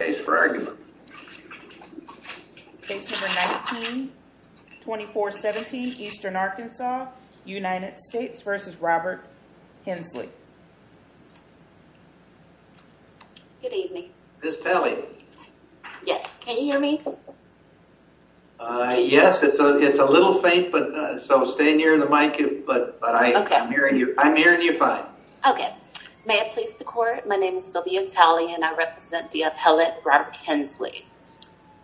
Good evening. Miss Talley. Yes. Can you hear me? Yes, it's a little faint, so stay near the mic, but I'm hearing you fine. Okay. May it please the court, my name is Sylvia Talley and I represent the appellate Robert Hensley.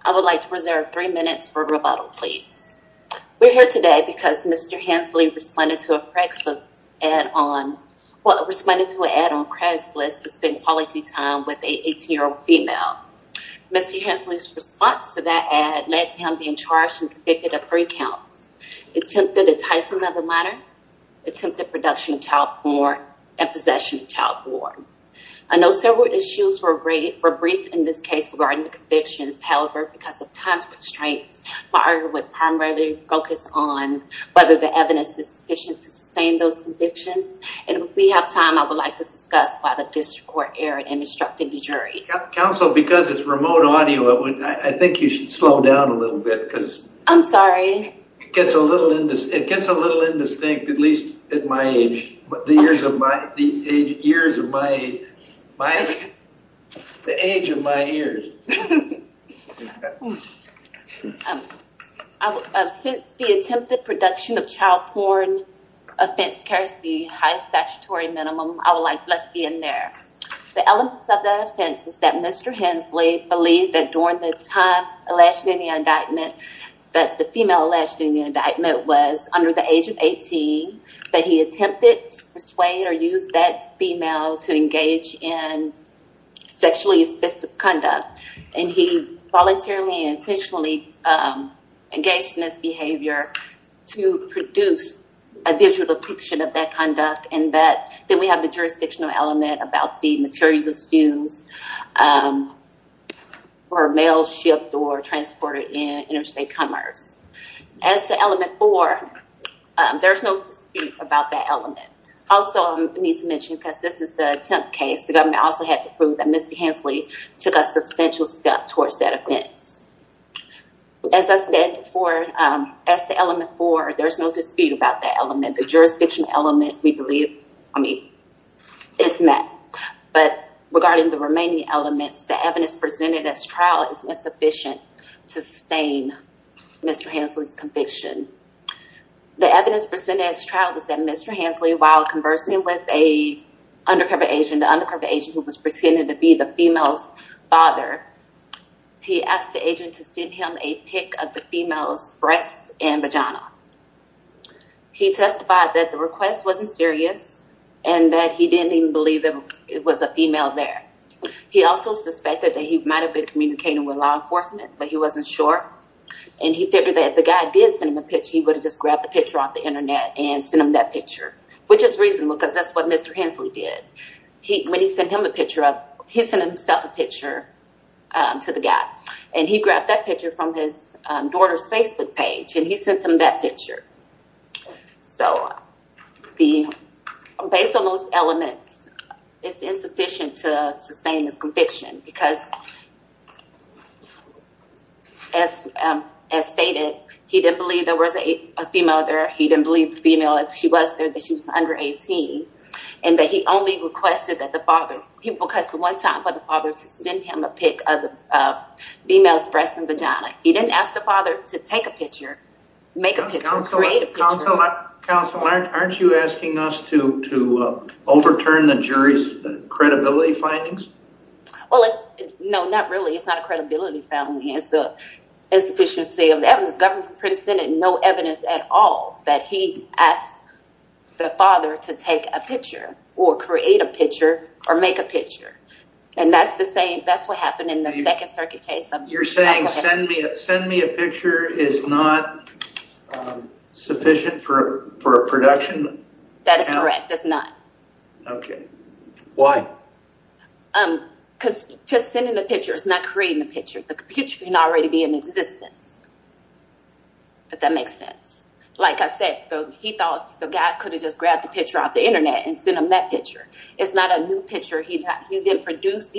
I would like to reserve three minutes for rebuttal, please. We're here today because Mr. Hensley responded to a Craigslist ad on, well, responded to an ad on Craigslist to spend quality time with a 18-year-old female. Mr. Hensley's response to that ad led to him being charged and convicted of three counts, attempted enticing of a minor, attempted production of child porn, and possession of child porn. I know several issues were briefed in this case regarding the convictions. However, because of time constraints, my argument would primarily focus on whether the evidence is sufficient to sustain those convictions. And if we have time, I would like to discuss why the district court erred in instructing the jury. Counsel, because it's remote audio, I think you should slow down a little bit because- I'm sorry. It gets a little indistinct, at least at my age, the years of my age, the age of my ears. Since the attempted production of child porn offense carries the highest statutory minimum, I would like, let's be in there. The elements of that offense is that Mr. Hensley believed that during the time elation in the indictment, that the female elation in the indictment was under the age of 18, that he attempted to persuade or use that female to engage in sexually assistive conduct. And he voluntarily and intentionally engaged in this behavior to produce a visual depiction of that conduct. And that then we have the jurisdictional element about the materials used for a male shipped or transported in interstate commerce. As to element four, there's no dispute about that element. Also, I need to mention, because this is the 10th case, the government also had to prove that Mr. Hensley took a substantial step towards that offense. As I said before, as to element four, there's no dispute about that element. The jurisdictional element, we believe, I mean, it's met, but regarding the remaining elements, the evidence presented as trial is insufficient to sustain Mr. Hensley's conviction. The evidence presented as trial was that Mr. Hensley, while conversing with a undercover agent, the undercover agent who was pretending to be the female's father, he asked the agent to send him a pic of the female's breast and vagina. He testified that the request wasn't serious and that he didn't even believe that it was a female there. He also suspected that he might have been communicating with law enforcement, but he wasn't sure. And he figured that if the guy did send him a picture, he would have just grabbed the picture off the internet and sent him that picture, which is reasonable because that's what Mr. Hensley did. When he sent him a picture, he sent himself a picture to the guy. And he grabbed that picture from his daughter's Facebook page, and he sent him that picture. So based on those elements, it's insufficient to sustain his conviction because as stated, he didn't believe there was a female there. He didn't believe the female, if she was there, that she was under 18. And that he only requested that the father, he requested one time for the father to send him a pic of the female's breast and vagina. He didn't ask the father to take a picture, make a picture, create a picture. Counselor, aren't you asking us to overturn the jury's credibility findings? Well, no, not really. It's not a credibility finding. It's the insufficiency of evidence. The government presented no evidence at all that he asked the father to take a picture or create a picture or make a picture. And that's the same, that's what happened in the second circuit case. You're saying send me a picture is not sufficient for a production? That is correct. That's not. Okay. Why? Because just sending the picture is not creating the picture. The picture can already be in existence, if that makes sense. Like I said, he thought the guy could have just grabbed the internet and sent him that picture. It's not a new picture he didn't produce.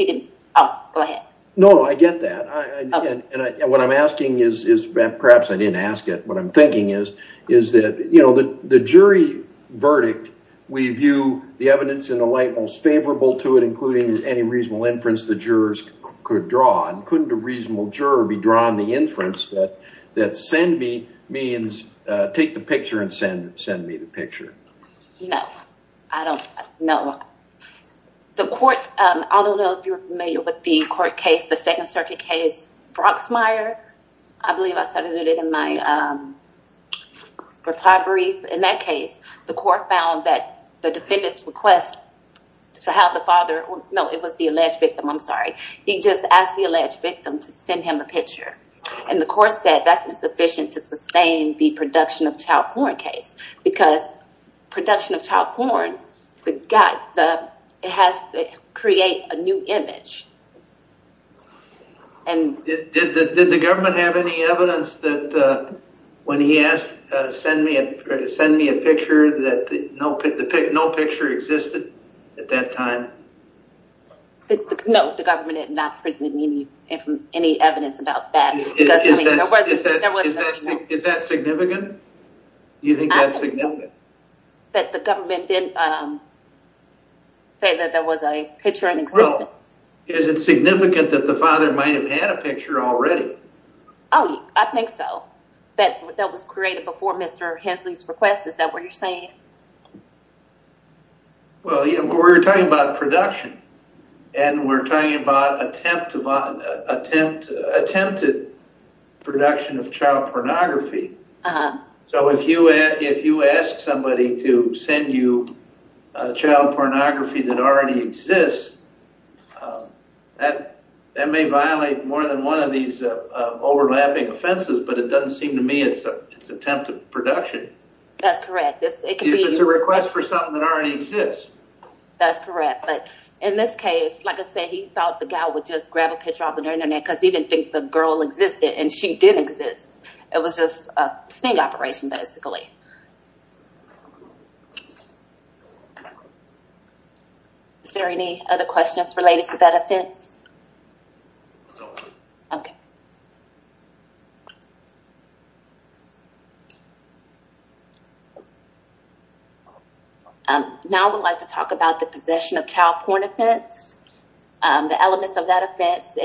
Oh, go ahead. No, I get that. And what I'm asking is, perhaps I didn't ask it, what I'm thinking is, is that the jury verdict, we view the evidence in the light most favorable to it, including any reasonable inference the jurors could draw. And couldn't a reasonable juror be drawn the inference that send me means take the picture and send me the picture? No, I don't know. The court, I don't know if you're familiar with the court case, the second circuit case, Brocksmire, I believe I cited it in my reply brief. In that case, the court found that the defendants request to have the father, no, it was the alleged victim, I'm sorry. He just asked the alleged victim to send him a picture. And the court said that's insufficient to sustain the production of child porn case, because production of child porn, it has to create a new image. And did the government have any evidence that when he asked, send me a picture that no picture existed at that time? No, the government had not presented any evidence about that. Is that significant? Do you think that's significant? That the government didn't say that there was a picture in existence? Is it significant that the father might have had a picture already? Oh, I think so. That that was created before Mr. Hensley's request. Is that what you're saying? Well, we're talking about production. And we're talking about attempted production of child pornography. So if you ask somebody to send you child pornography that already exists, that may violate more than one of these overlapping offenses, but it doesn't seem to me it's attempted production. That's correct. If it's a request for something that already exists. That's correct. But in this case, like I said, he thought the guy would just grab a picture off the internet because he didn't think the girl existed and she didn't exist. It was just a sting operation basically. Is there any other questions related to that offense? No. Okay. Now I would like to talk about the possession of child porn offense. The elements of that offense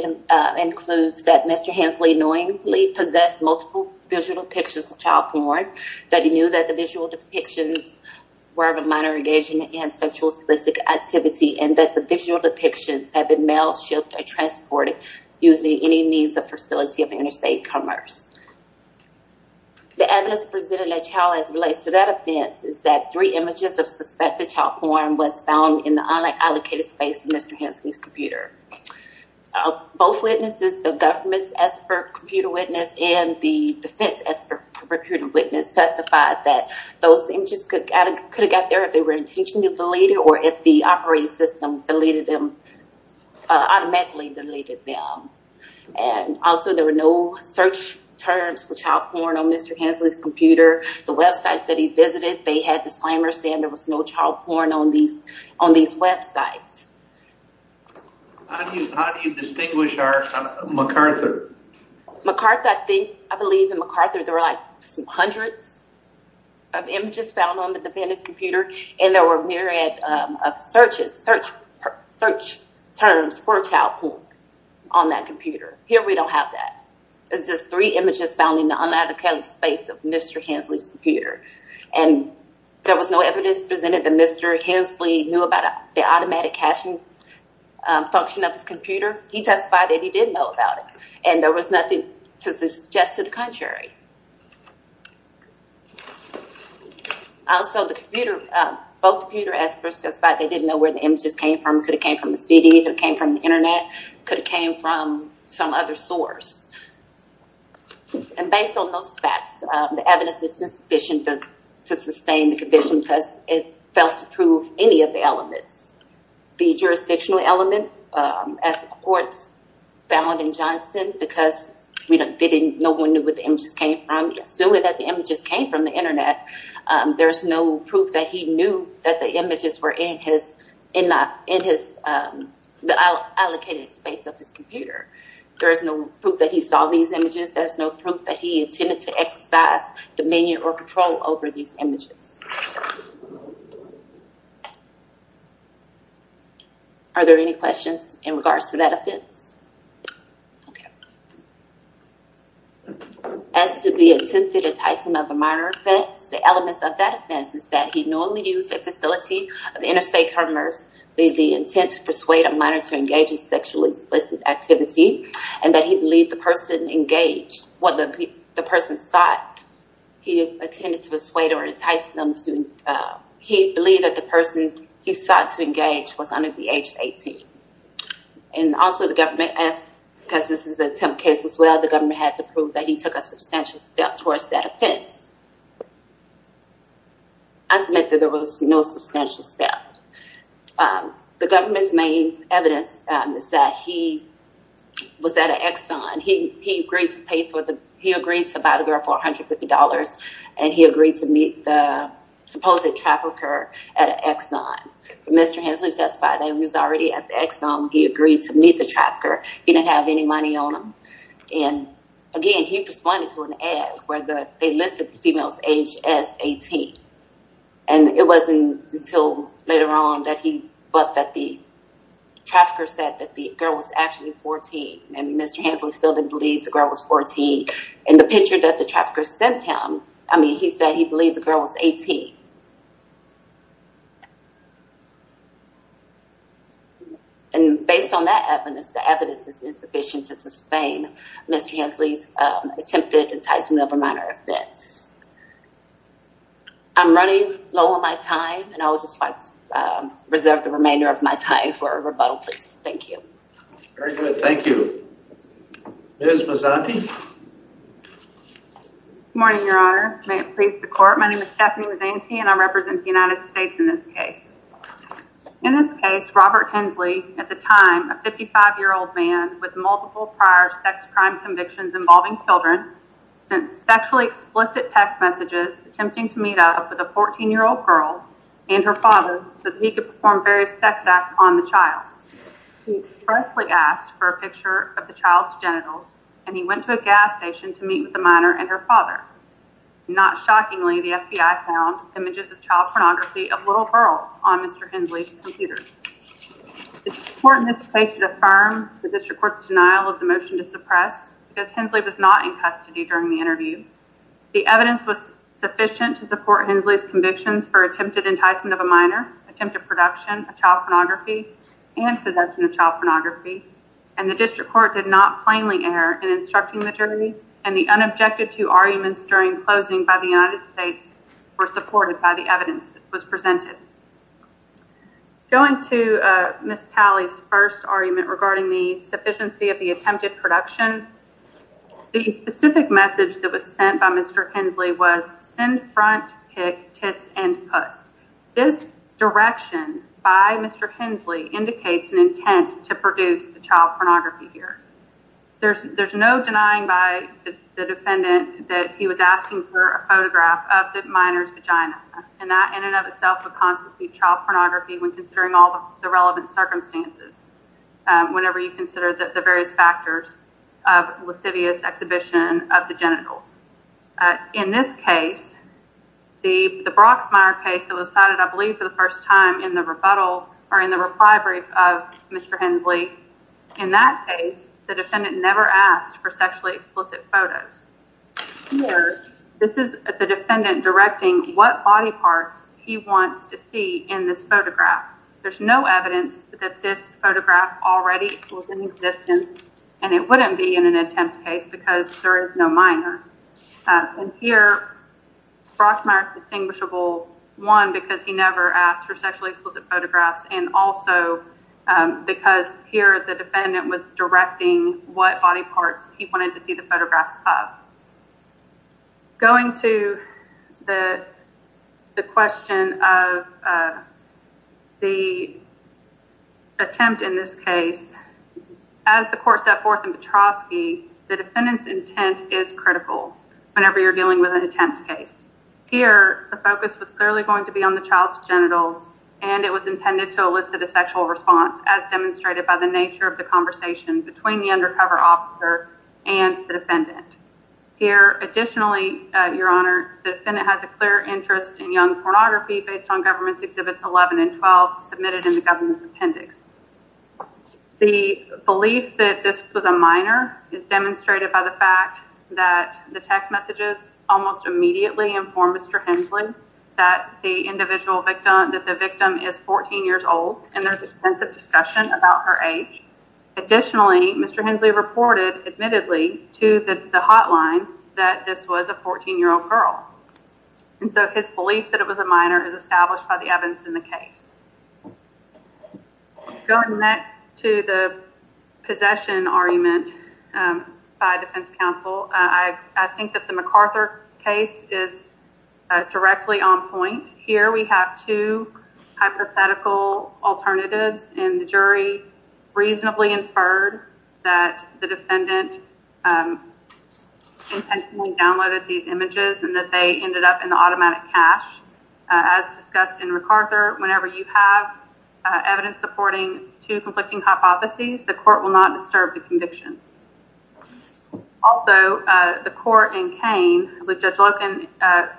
includes that Mr. Hensley knowingly possessed multiple visual depictions of child porn, that he knew that the visual depictions were of a minor sexual activity and that the visual depictions have been mailed, shipped, or transported using any means of facility of interstate commerce. The evidence presented in the trial as it relates to that offense is that three images of suspected child porn was found in the unallocated space of Mr. Hensley's computer. Both witnesses, the government's expert computer witness and the defense expert recruiting witness testified that those images could have got there if they were intentionally deleted or if the operating system automatically deleted them. Also, there were no search terms for child porn on Mr. Hensley's computer. The websites that he visited, they had disclaimers saying there was no child porn on these websites. How do you distinguish MacArthur? MacArthur, I think, I believe in MacArthur there were like some hundreds of images found on the defendant's computer and there were myriad of searches, search terms for child porn on that computer. Here we don't have that. It's just three images found in the unallocated space of Mr. Hensley's computer and there was no evidence presented that Mr. Hensley knew about the automatic caching function of his computer. He testified that he did know about it and there was nothing to suggest to the contrary. Also, the computer, both computer experts testified they didn't know where the images came from. Could have came from a CD, could have came from the internet, could have came from some other source. And based on those facts, the evidence is insufficient to sustain the conviction because it fails to prove any of the elements. The jurisdictional element, as the because no one knew what the images came from. Assuming that the images came from the internet, there's no proof that he knew that the images were in the allocated space of his computer. There's no proof that he saw these images. There's no proof that he intended to exercise dominion or control over these images. Are there any questions in regards to that offense? As to the intent to entice him of a minor offense, the elements of that offense is that he normally used a facility of interstate commerce with the intent to persuade a minor to engage in sexually explicit activity and that he believed the person engaged, what the person sought, he intended to persuade or entice them to, he believed that the person he sought to engage was under the age of 18. And also the government, because this is an attempt case as well, the government had to prove that he took a substantial step towards that offense. I submit that there was no substantial step. The government's main evidence is that he was at an Exxon. He agreed to buy the girl for $150 and he agreed to meet the supposed trafficker at an Exxon. Mr. Hensley testified that he was already at the Exxon. He agreed to meet the trafficker. He didn't have any money on him. And again, he responded to an ad where they listed the females age as 18. And it wasn't until later on that he thought that the trafficker said that the girl was actually 14. And Mr. Hensley still didn't believe the girl was 14. And the picture that the trafficker sent him, I mean, he said he believed the girl was 18. And based on that evidence, the evidence is insufficient to sustain Mr. Hensley's attempted enticement of a minor offense. I'm running low on my time and I would just like to reserve the remainder of my time for Very good. Thank you. Ms. Mazzanti. Good morning, Your Honor. May it please the court. My name is Stephanie Mazzanti and I represent the United States in this case. In this case, Robert Hensley, at the time a 55-year-old man with multiple prior sex crime convictions involving children sent sexually explicit text messages attempting to meet up with a 14-year-old girl and her father so that he could perform various sex acts on the child. He firstly asked for a picture of the child's genitals and he went to a gas station to meet with the minor and her father. Not shockingly, the FBI found images of child pornography of little girl on Mr. Hensley's computer. The court in this case should affirm the district court's denial of the motion to suppress because Hensley was not in custody during the interview. The evidence was sufficient to support Hensley's convictions for attempted enticement of a minor, attempted production of child pornography and possession of child pornography and the district court did not plainly err in instructing the jury and the unobjected to arguments during closing by the United States were supported by the evidence that was presented. Going to Ms. Talley's first argument regarding the sufficiency of the attempted production, the specific message that was sent by Mr. Hensley was send front, kick, tits and puss. This direction by Mr. Hensley indicates an intent to produce the child pornography here. There's there's no denying by the defendant that he was asking for a photograph of the minor's vagina and that in and of itself would constitute child pornography when considering all the of lascivious exhibition of the genitals. In this case, the the Broxmire case that was cited, I believe, for the first time in the rebuttal or in the reply brief of Mr. Hensley. In that case, the defendant never asked for sexually explicit photos. Here, this is the defendant directing what body parts he wants to see in this photograph. There's no evidence that this photograph already was in existence and it wouldn't be in an attempt case because there is no minor. And here, Broxmire's distinguishable, one, because he never asked for sexually explicit photographs and also because here the defendant was directing what body parts he wanted to see the photographs of. Going to the the question of the attempt in this case, as the court set forth in Petroski, the defendant's intent is critical whenever you're dealing with an attempt case. Here, the focus was clearly going to be on the child's genitals and it was intended to elicit a sexual response as demonstrated by the nature of the conversation between the undercover officer and the defendant. Here, additionally, your honor, the defendant has a clear interest in young pornography based on government's exhibits 11 and 12 submitted in the government's appendix. The belief that this was a minor is demonstrated by the fact that the text messages almost immediately informed Mr. Hensley that the individual victim, that the victim is 14 years old and there's extensive discussion about her age. Additionally, Mr. Hensley reported admittedly to the hotline that this was a 14-year-old girl and so his belief that it was a minor is established by the evidence in the case. Going back to the possession argument by defense counsel, I think that the MacArthur case is directly on point. Here, we have two hypothetical alternatives and the jury reasonably inferred that the defendant intentionally downloaded these images and that they ended up in the automatic cache. As discussed in MacArthur, whenever you have evidence supporting two conflicting hypotheses, the court will not disturb the conviction. Also, the court in Kane, which Judge Loken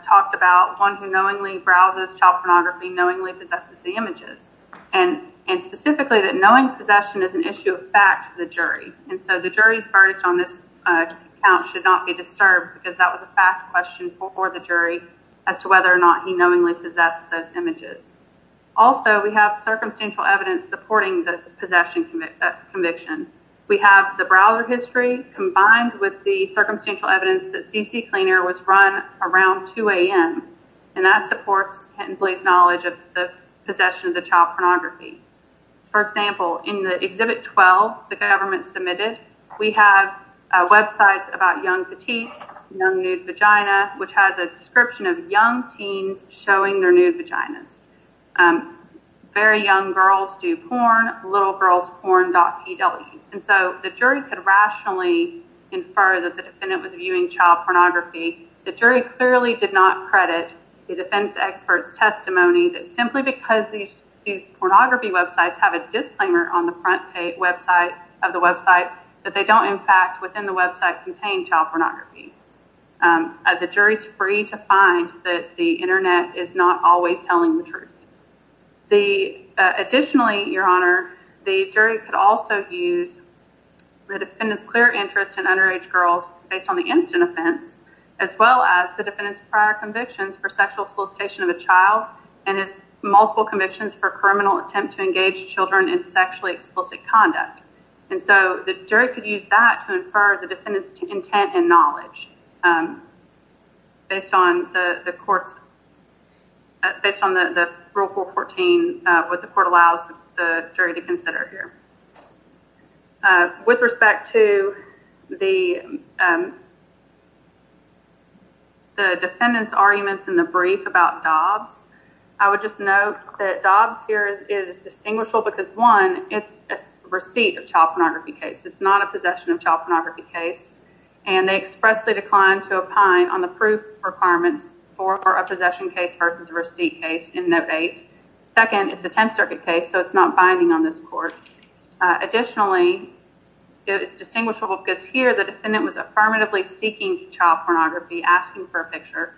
talked about, one who knowingly browses child pornography, knowingly possesses the images and specifically that knowing possession is an issue of fact for the jury and so the jury's verdict on this account should not be disturbed because that was a fact question for the jury as to whether or not he knowingly possessed those images. Also, we have circumstantial evidence supporting the possession conviction. We have the browser history combined with the circumstantial evidence that CC Cleaner was run around 2 a.m. and that supports Hensley's knowledge of the possession of the child pornography. For example, in the Exhibit 12 the government submitted, we have websites about young petite, young nude vagina, which has a description of young teens showing their nude vaginas. Very young girls do porn, littlegirlsporn.pw and so the jury could rationally infer that the jury clearly did not credit the defense expert's testimony that simply because these pornography websites have a disclaimer on the front page of the website that they don't in fact within the website contain child pornography. The jury's free to find that the internet is not always telling the truth. Additionally, Your Honor, the jury could also use the defendant's clear interest in underage girls based on the incident offense as well as the defendant's prior convictions for sexual solicitation of a child and his multiple convictions for criminal attempt to engage children in sexually explicit conduct. And so the jury could use that to infer the defendant's intent and knowledge based on the court's, based on the Rule 414, what the court allows the jury to consider here. With respect to the defendant's arguments in the brief about Dobbs, I would just note that Dobbs here is distinguishable because, one, it's a receipt of child pornography case. It's not a possession of child pornography case. And they expressly declined to opine on the proof requirements for a possession case versus a receipt case in Note 8. Second, it's a Tenth Circuit case, so it's not binding on this court. Additionally, it's distinguishable because here the defendant was affirmatively seeking child pornography, asking for a picture.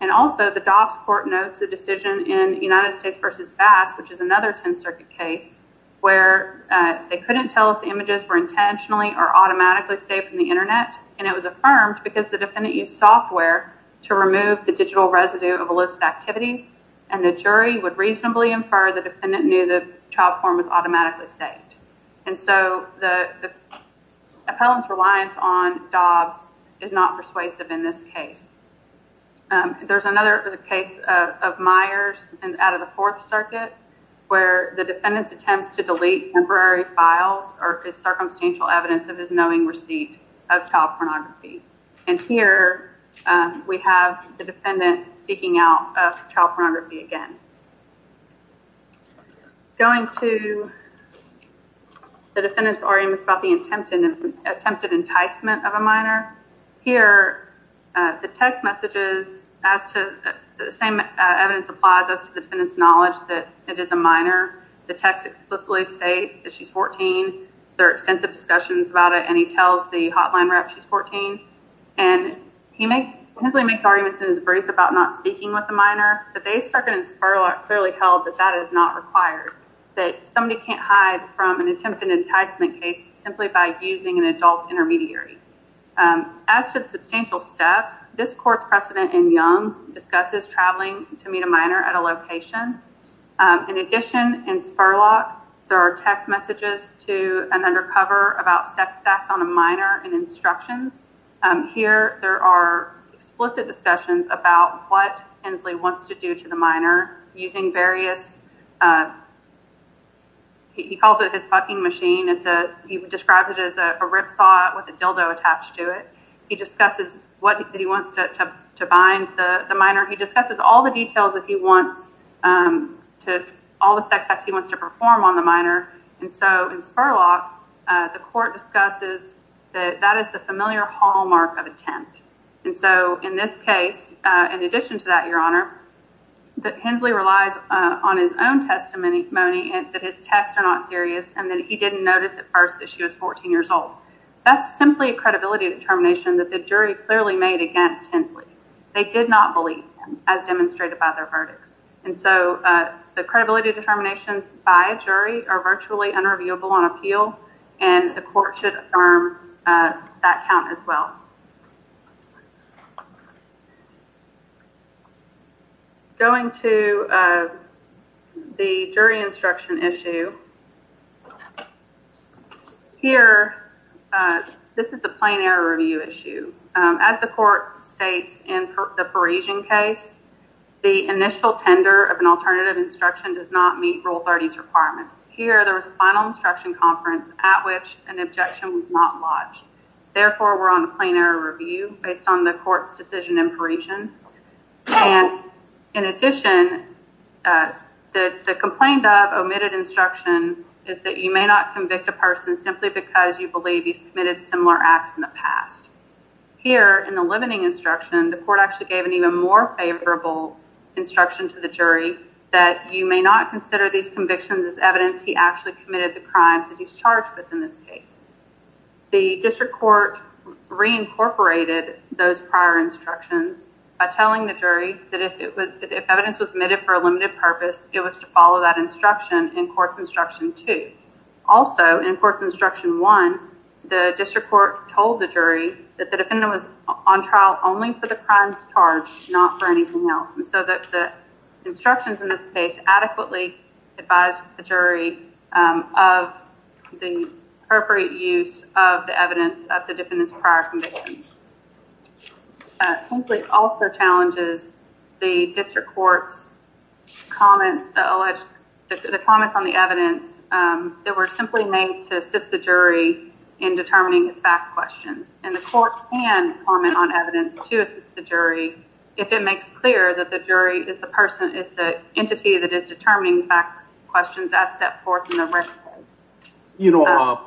And also, the Dobbs court notes a decision in United States v. Bass, which is another Tenth Circuit case, where they couldn't tell if the images were intentionally or automatically saved from the internet. And it was affirmed because the defendant used software to remove the digital residue of a list of activities, and the jury would reasonably infer the defendant knew the child form was automatically saved. And so the appellant's reliance on Dobbs is not persuasive in this case. There's another case of Myers out of the Fourth Circuit, where the defendant's attempts to delete temporary files are circumstantial evidence of his knowing receipt of child pornography, and the defendant seeking out child pornography again. Going to the defendant's arguments about the attempted enticement of a minor, here the text messages, the same evidence applies as to the defendant's knowledge that it is a minor. The text explicitly states that she's 14. There are extensive discussions about it, and he tells the hotline rep she's 14. And Hensley makes his brief about not speaking with the minor, but they certainly in Spurlock clearly held that that is not required, that somebody can't hide from an attempted enticement case simply by using an adult intermediary. As to the substantial step, this court's precedent in Young discusses traveling to meet a minor at a location. In addition, in Spurlock, there are text messages to an undercover about sex acts on a minor and instructions. Here there are explicit discussions about what Hensley wants to do to the minor using various, he calls it his fucking machine. He describes it as a rip saw with a dildo attached to it. He discusses what he wants to bind the minor. He discusses all the details that he wants to, all the sex acts he wants to perform on the minor. And so in Spurlock, the court discusses that that is the familiar hallmark of attempt. And so in this case, in addition to that, your honor, that Hensley relies on his own testimony, that his texts are not serious, and that he didn't notice at first that she was 14 years old. That's simply a credibility determination that the jury clearly made against Hensley. They did not believe him as demonstrated by their verdicts. And so the credibility determinations by a jury are virtually unreviewable on appeal, and the court should affirm that count as well. Going to the jury instruction issue, here, this is a plain error review issue. As the court states in the Parisian case, the initial tender of an alternative instruction does not meet Rule 30's requirements. Here, there was a final instruction conference at which an objection was not lodged. Therefore, we're on a plain error review based on the court's decision in Parisian. And in addition, the complaint of omitted instruction is that you may not convict a person simply because you believe he's committed similar acts in the past. Here, in the limiting instruction, the court actually gave an even more favorable instruction to the jury that you may not consider these convictions as evidence he actually committed the crimes that he's charged with in this case. The district court reincorporated those prior instructions by telling the jury that if evidence was omitted for a limited purpose, it was to follow that instruction in court's instruction two. Also, in court's instruction one, the district court told the jury that the defendant was on trial only for the crimes charged, not for anything else. And so the instructions in this case adequately advised the jury of the appropriate use of the evidence of the defendant's prior convictions. Simply also challenges the district court's comment on the evidence that were simply made to assist the jury in determining his fact questions. And the court can comment on evidence to assist the jury if it makes clear that the jury is the person, is the entity that is determining facts questions as set forth in the record. You know,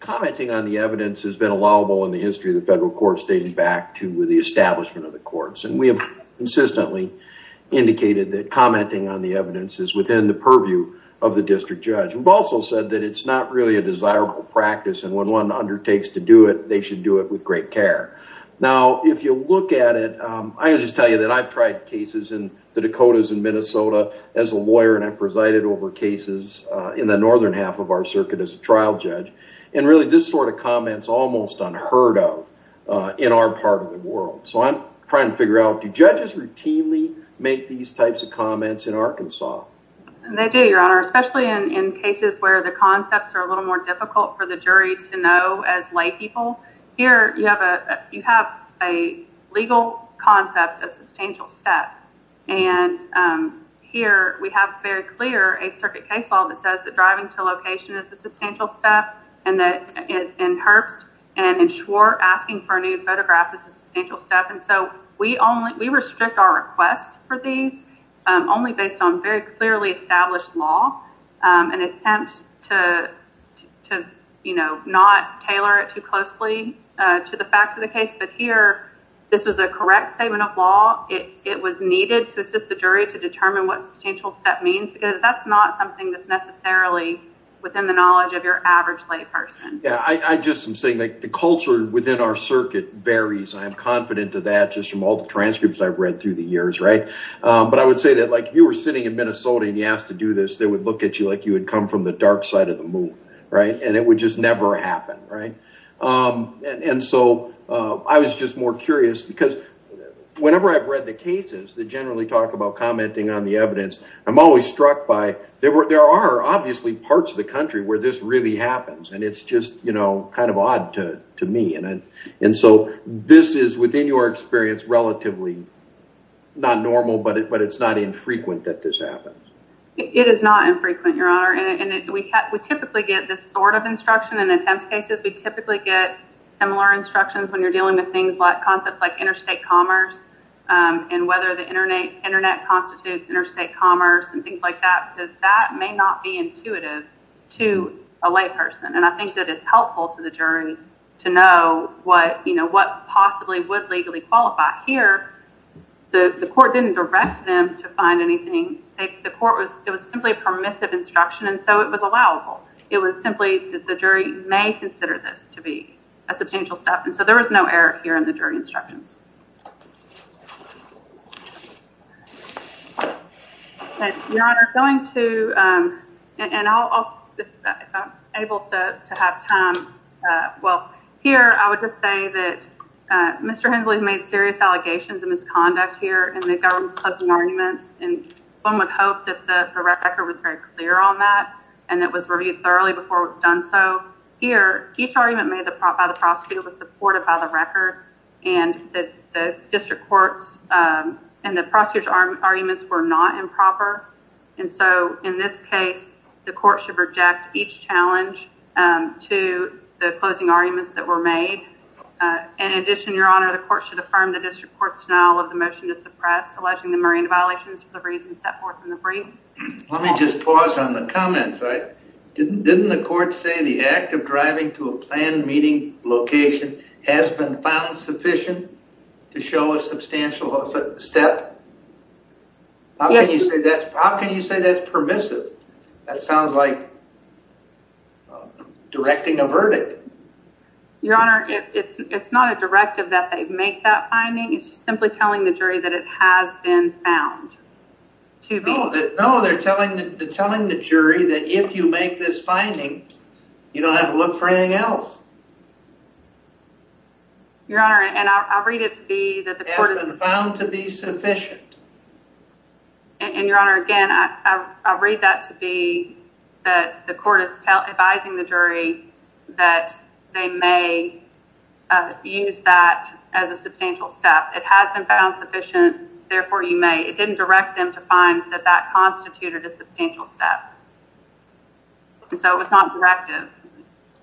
commenting on the evidence has been allowable in the history of the federal court stating back to the establishment of the courts. And we have consistently indicated that commenting on the evidence is within the purview of the district judge. We've also said that it's not really a desirable practice and when one look at it, I can just tell you that I've tried cases in the Dakotas and Minnesota as a lawyer and I've presided over cases in the northern half of our circuit as a trial judge. And really this sort of comment is almost unheard of in our part of the world. So I'm trying to figure out, do judges routinely make these types of comments in Arkansas? They do, your honor, especially in cases where the concepts are a little more difficult for the jury to know as lay people. Here you have a legal concept of substantial step. And here we have very clear 8th Circuit case law that says that driving to location is a substantial step and that in Herbst and in Schwartz asking for a new photograph is a substantial step. And so we restrict our requests for these only based on very clearly established law and attempt to, you know, not tailor it too closely to the facts of the case. But here this was a correct statement of law. It was needed to assist the jury to determine what substantial step means because that's not something that's necessarily within the knowledge of your average lay person. Yeah, I just am saying that the culture within our circuit varies. I am confident of that just from all the transcripts I've read through the like if you were sitting in Minnesota and you asked to do this, they would look at you like you had come from the dark side of the moon, right? And it would just never happen, right? And so I was just more curious because whenever I've read the cases that generally talk about commenting on the evidence, I'm always struck by there are obviously parts of the country where this really happens and it's just, you know, kind of odd to me. And so this is within your experience, relatively not normal, but it's not infrequent that this happens. It is not infrequent, your honor. And we typically get this sort of instruction in attempt cases. We typically get similar instructions when you're dealing with things like concepts like interstate commerce and whether the internet constitutes interstate commerce and things like that because that may not be intuitive to a lay person. And I think that it's helpful to the jury to know what, you know, what possibly would legally qualify here. The court didn't direct them to find anything. The court was, it was simply a permissive instruction and so it was allowable. It was simply that the jury may consider this to be a substantial step. And so there was no error here in the jury instructions. Your honor, I'm going to, and I'll, if I'm able to have time, well, here I would just say that Mr. Hensley's made serious allegations of misconduct here in the government closing arguments and one would hope that the record was very clear on that and that was reviewed thoroughly before it was done so. Here, each argument made by the prosecutor was supported by the record and the district courts and the prosecutor's arguments were not improper and so in this case the court should reject each challenge to the closing arguments that were made. In addition, your honor, the court should affirm the district court's denial of the motion to suppress alleging the marine violations for the reasons set forth in the brief. Let me just pause on the comments. Didn't the court say the act of driving to a planned meeting location has been found sufficient to show a substantial step? How can you say that's permissive? That sounds like directing a verdict. Your honor, it's not a directive that they make that finding, it's just simply telling the jury that it has been found to be. No, they're telling the jury that if you make this finding, you don't have to look for anything else. Your honor, and I'll read it to be that the court has been found to be sufficient. And your honor, again, I'll read that to be that the court is advising the jury that they may use that as a substantial step. It has been found sufficient, therefore you may. It didn't direct them to find that that constituted a substantial step. And so it's not directive.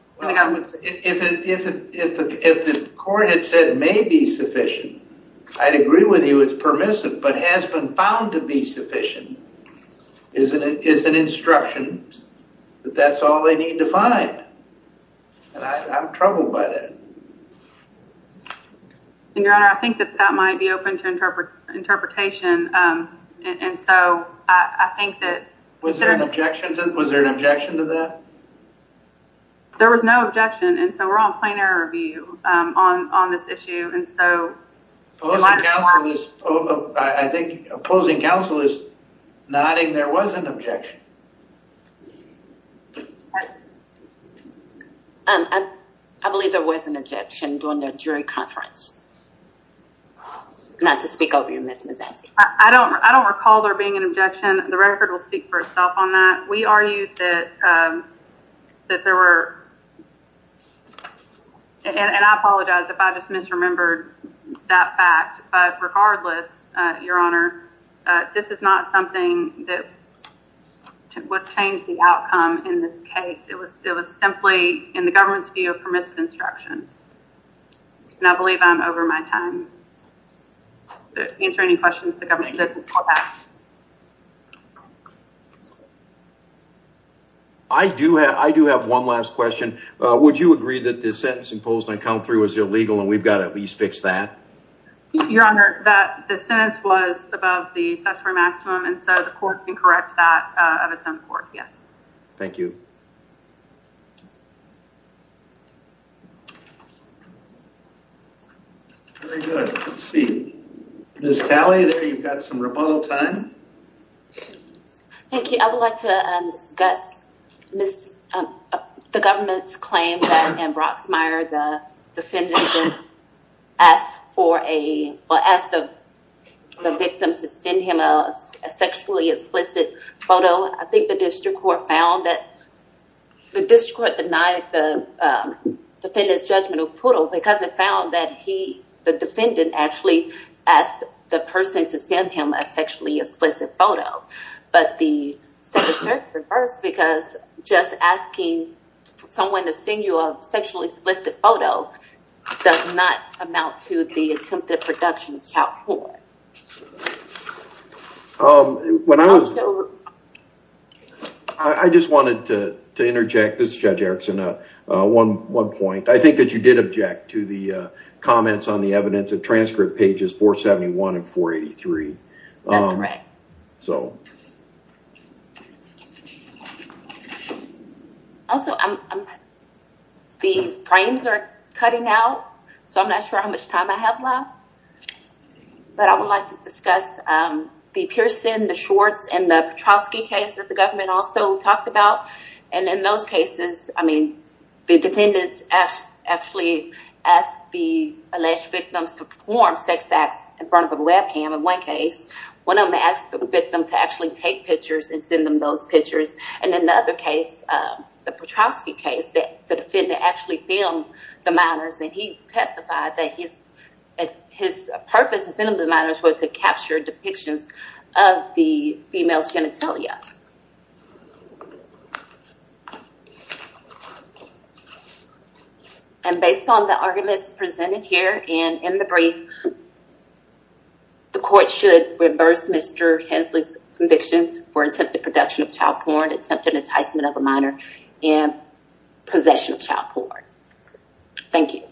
If the court had said may be sufficient, I'd agree with you it's permissive, but has been found to be sufficient is an instruction that that's all they need to find. And I'm troubled by that. And your honor, I think that that might be open to interpretation. And so I think that Was there an objection to that? There was no objection. And so we're on plain error view on this issue. And so I think opposing counsel is nodding there was an objection. I believe there was an objection during the jury conference. Not to speak over you, Ms. Mazzetti. I don't recall there being an objection. The record will speak for itself on that. We argue that there were and I apologize if I just misremembered that fact. But regardless, your honor, this is not something that would change the outcome in this case. It was simply in the government's view of permissive instruction. And I believe I'm over my time. Did I answer any questions the government did before that? I do have one last question. Would you agree that the sentence imposed on count three was illegal and we've got to at least fix that? Your honor, that the sentence was above the statutory maximum. And so the court can correct that of its own court. Yes. Thank you. Very good. Let's see. Ms. Talley, there you've got some rebuttal time. Thank you. I would like to discuss the government's claim that in Broxmire, the defendant asked the victim to send him a sexually explicit photo. I think the district court found that the district court denied the defendant's judgmental because it found that he, the defendant actually asked the person to send him a sexually explicit photo. But the second circuit reversed because just asking someone to send you a sexually explicit photo does not amount to the attempted production of the child court. I just wanted to interject. This is Judge Erickson. One point, I think that you did object to the comments on the evidence of transcript pages 471 and 483. That's correct. Also, the frames are cutting out, so I'm not sure how much time I have left. But I would like to discuss the Pearson, the Schwartz, and the Petrosky case that the government also talked about. And in those cases, I mean, the defendants actually asked the alleged victims to perform sex acts in front of a webcam in one case. One of them asked the victim to actually take pictures and send them those pictures. And in the other case, the Petrosky case, the defendant actually filmed the minors, and he testified that his purpose in filming the minors was to capture depictions of the female's genitalia. And based on the arguments presented here and in the brief, the court should reverse Mr. Hensley's convictions for attempted production of child porn, attempted enticement of a minor, and possession of child porn. Thank you.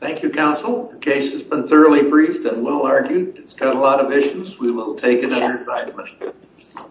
Thank you, counsel. The case has been thoroughly briefed and well-argued. It's got a lot of issues. We will take it under advisement.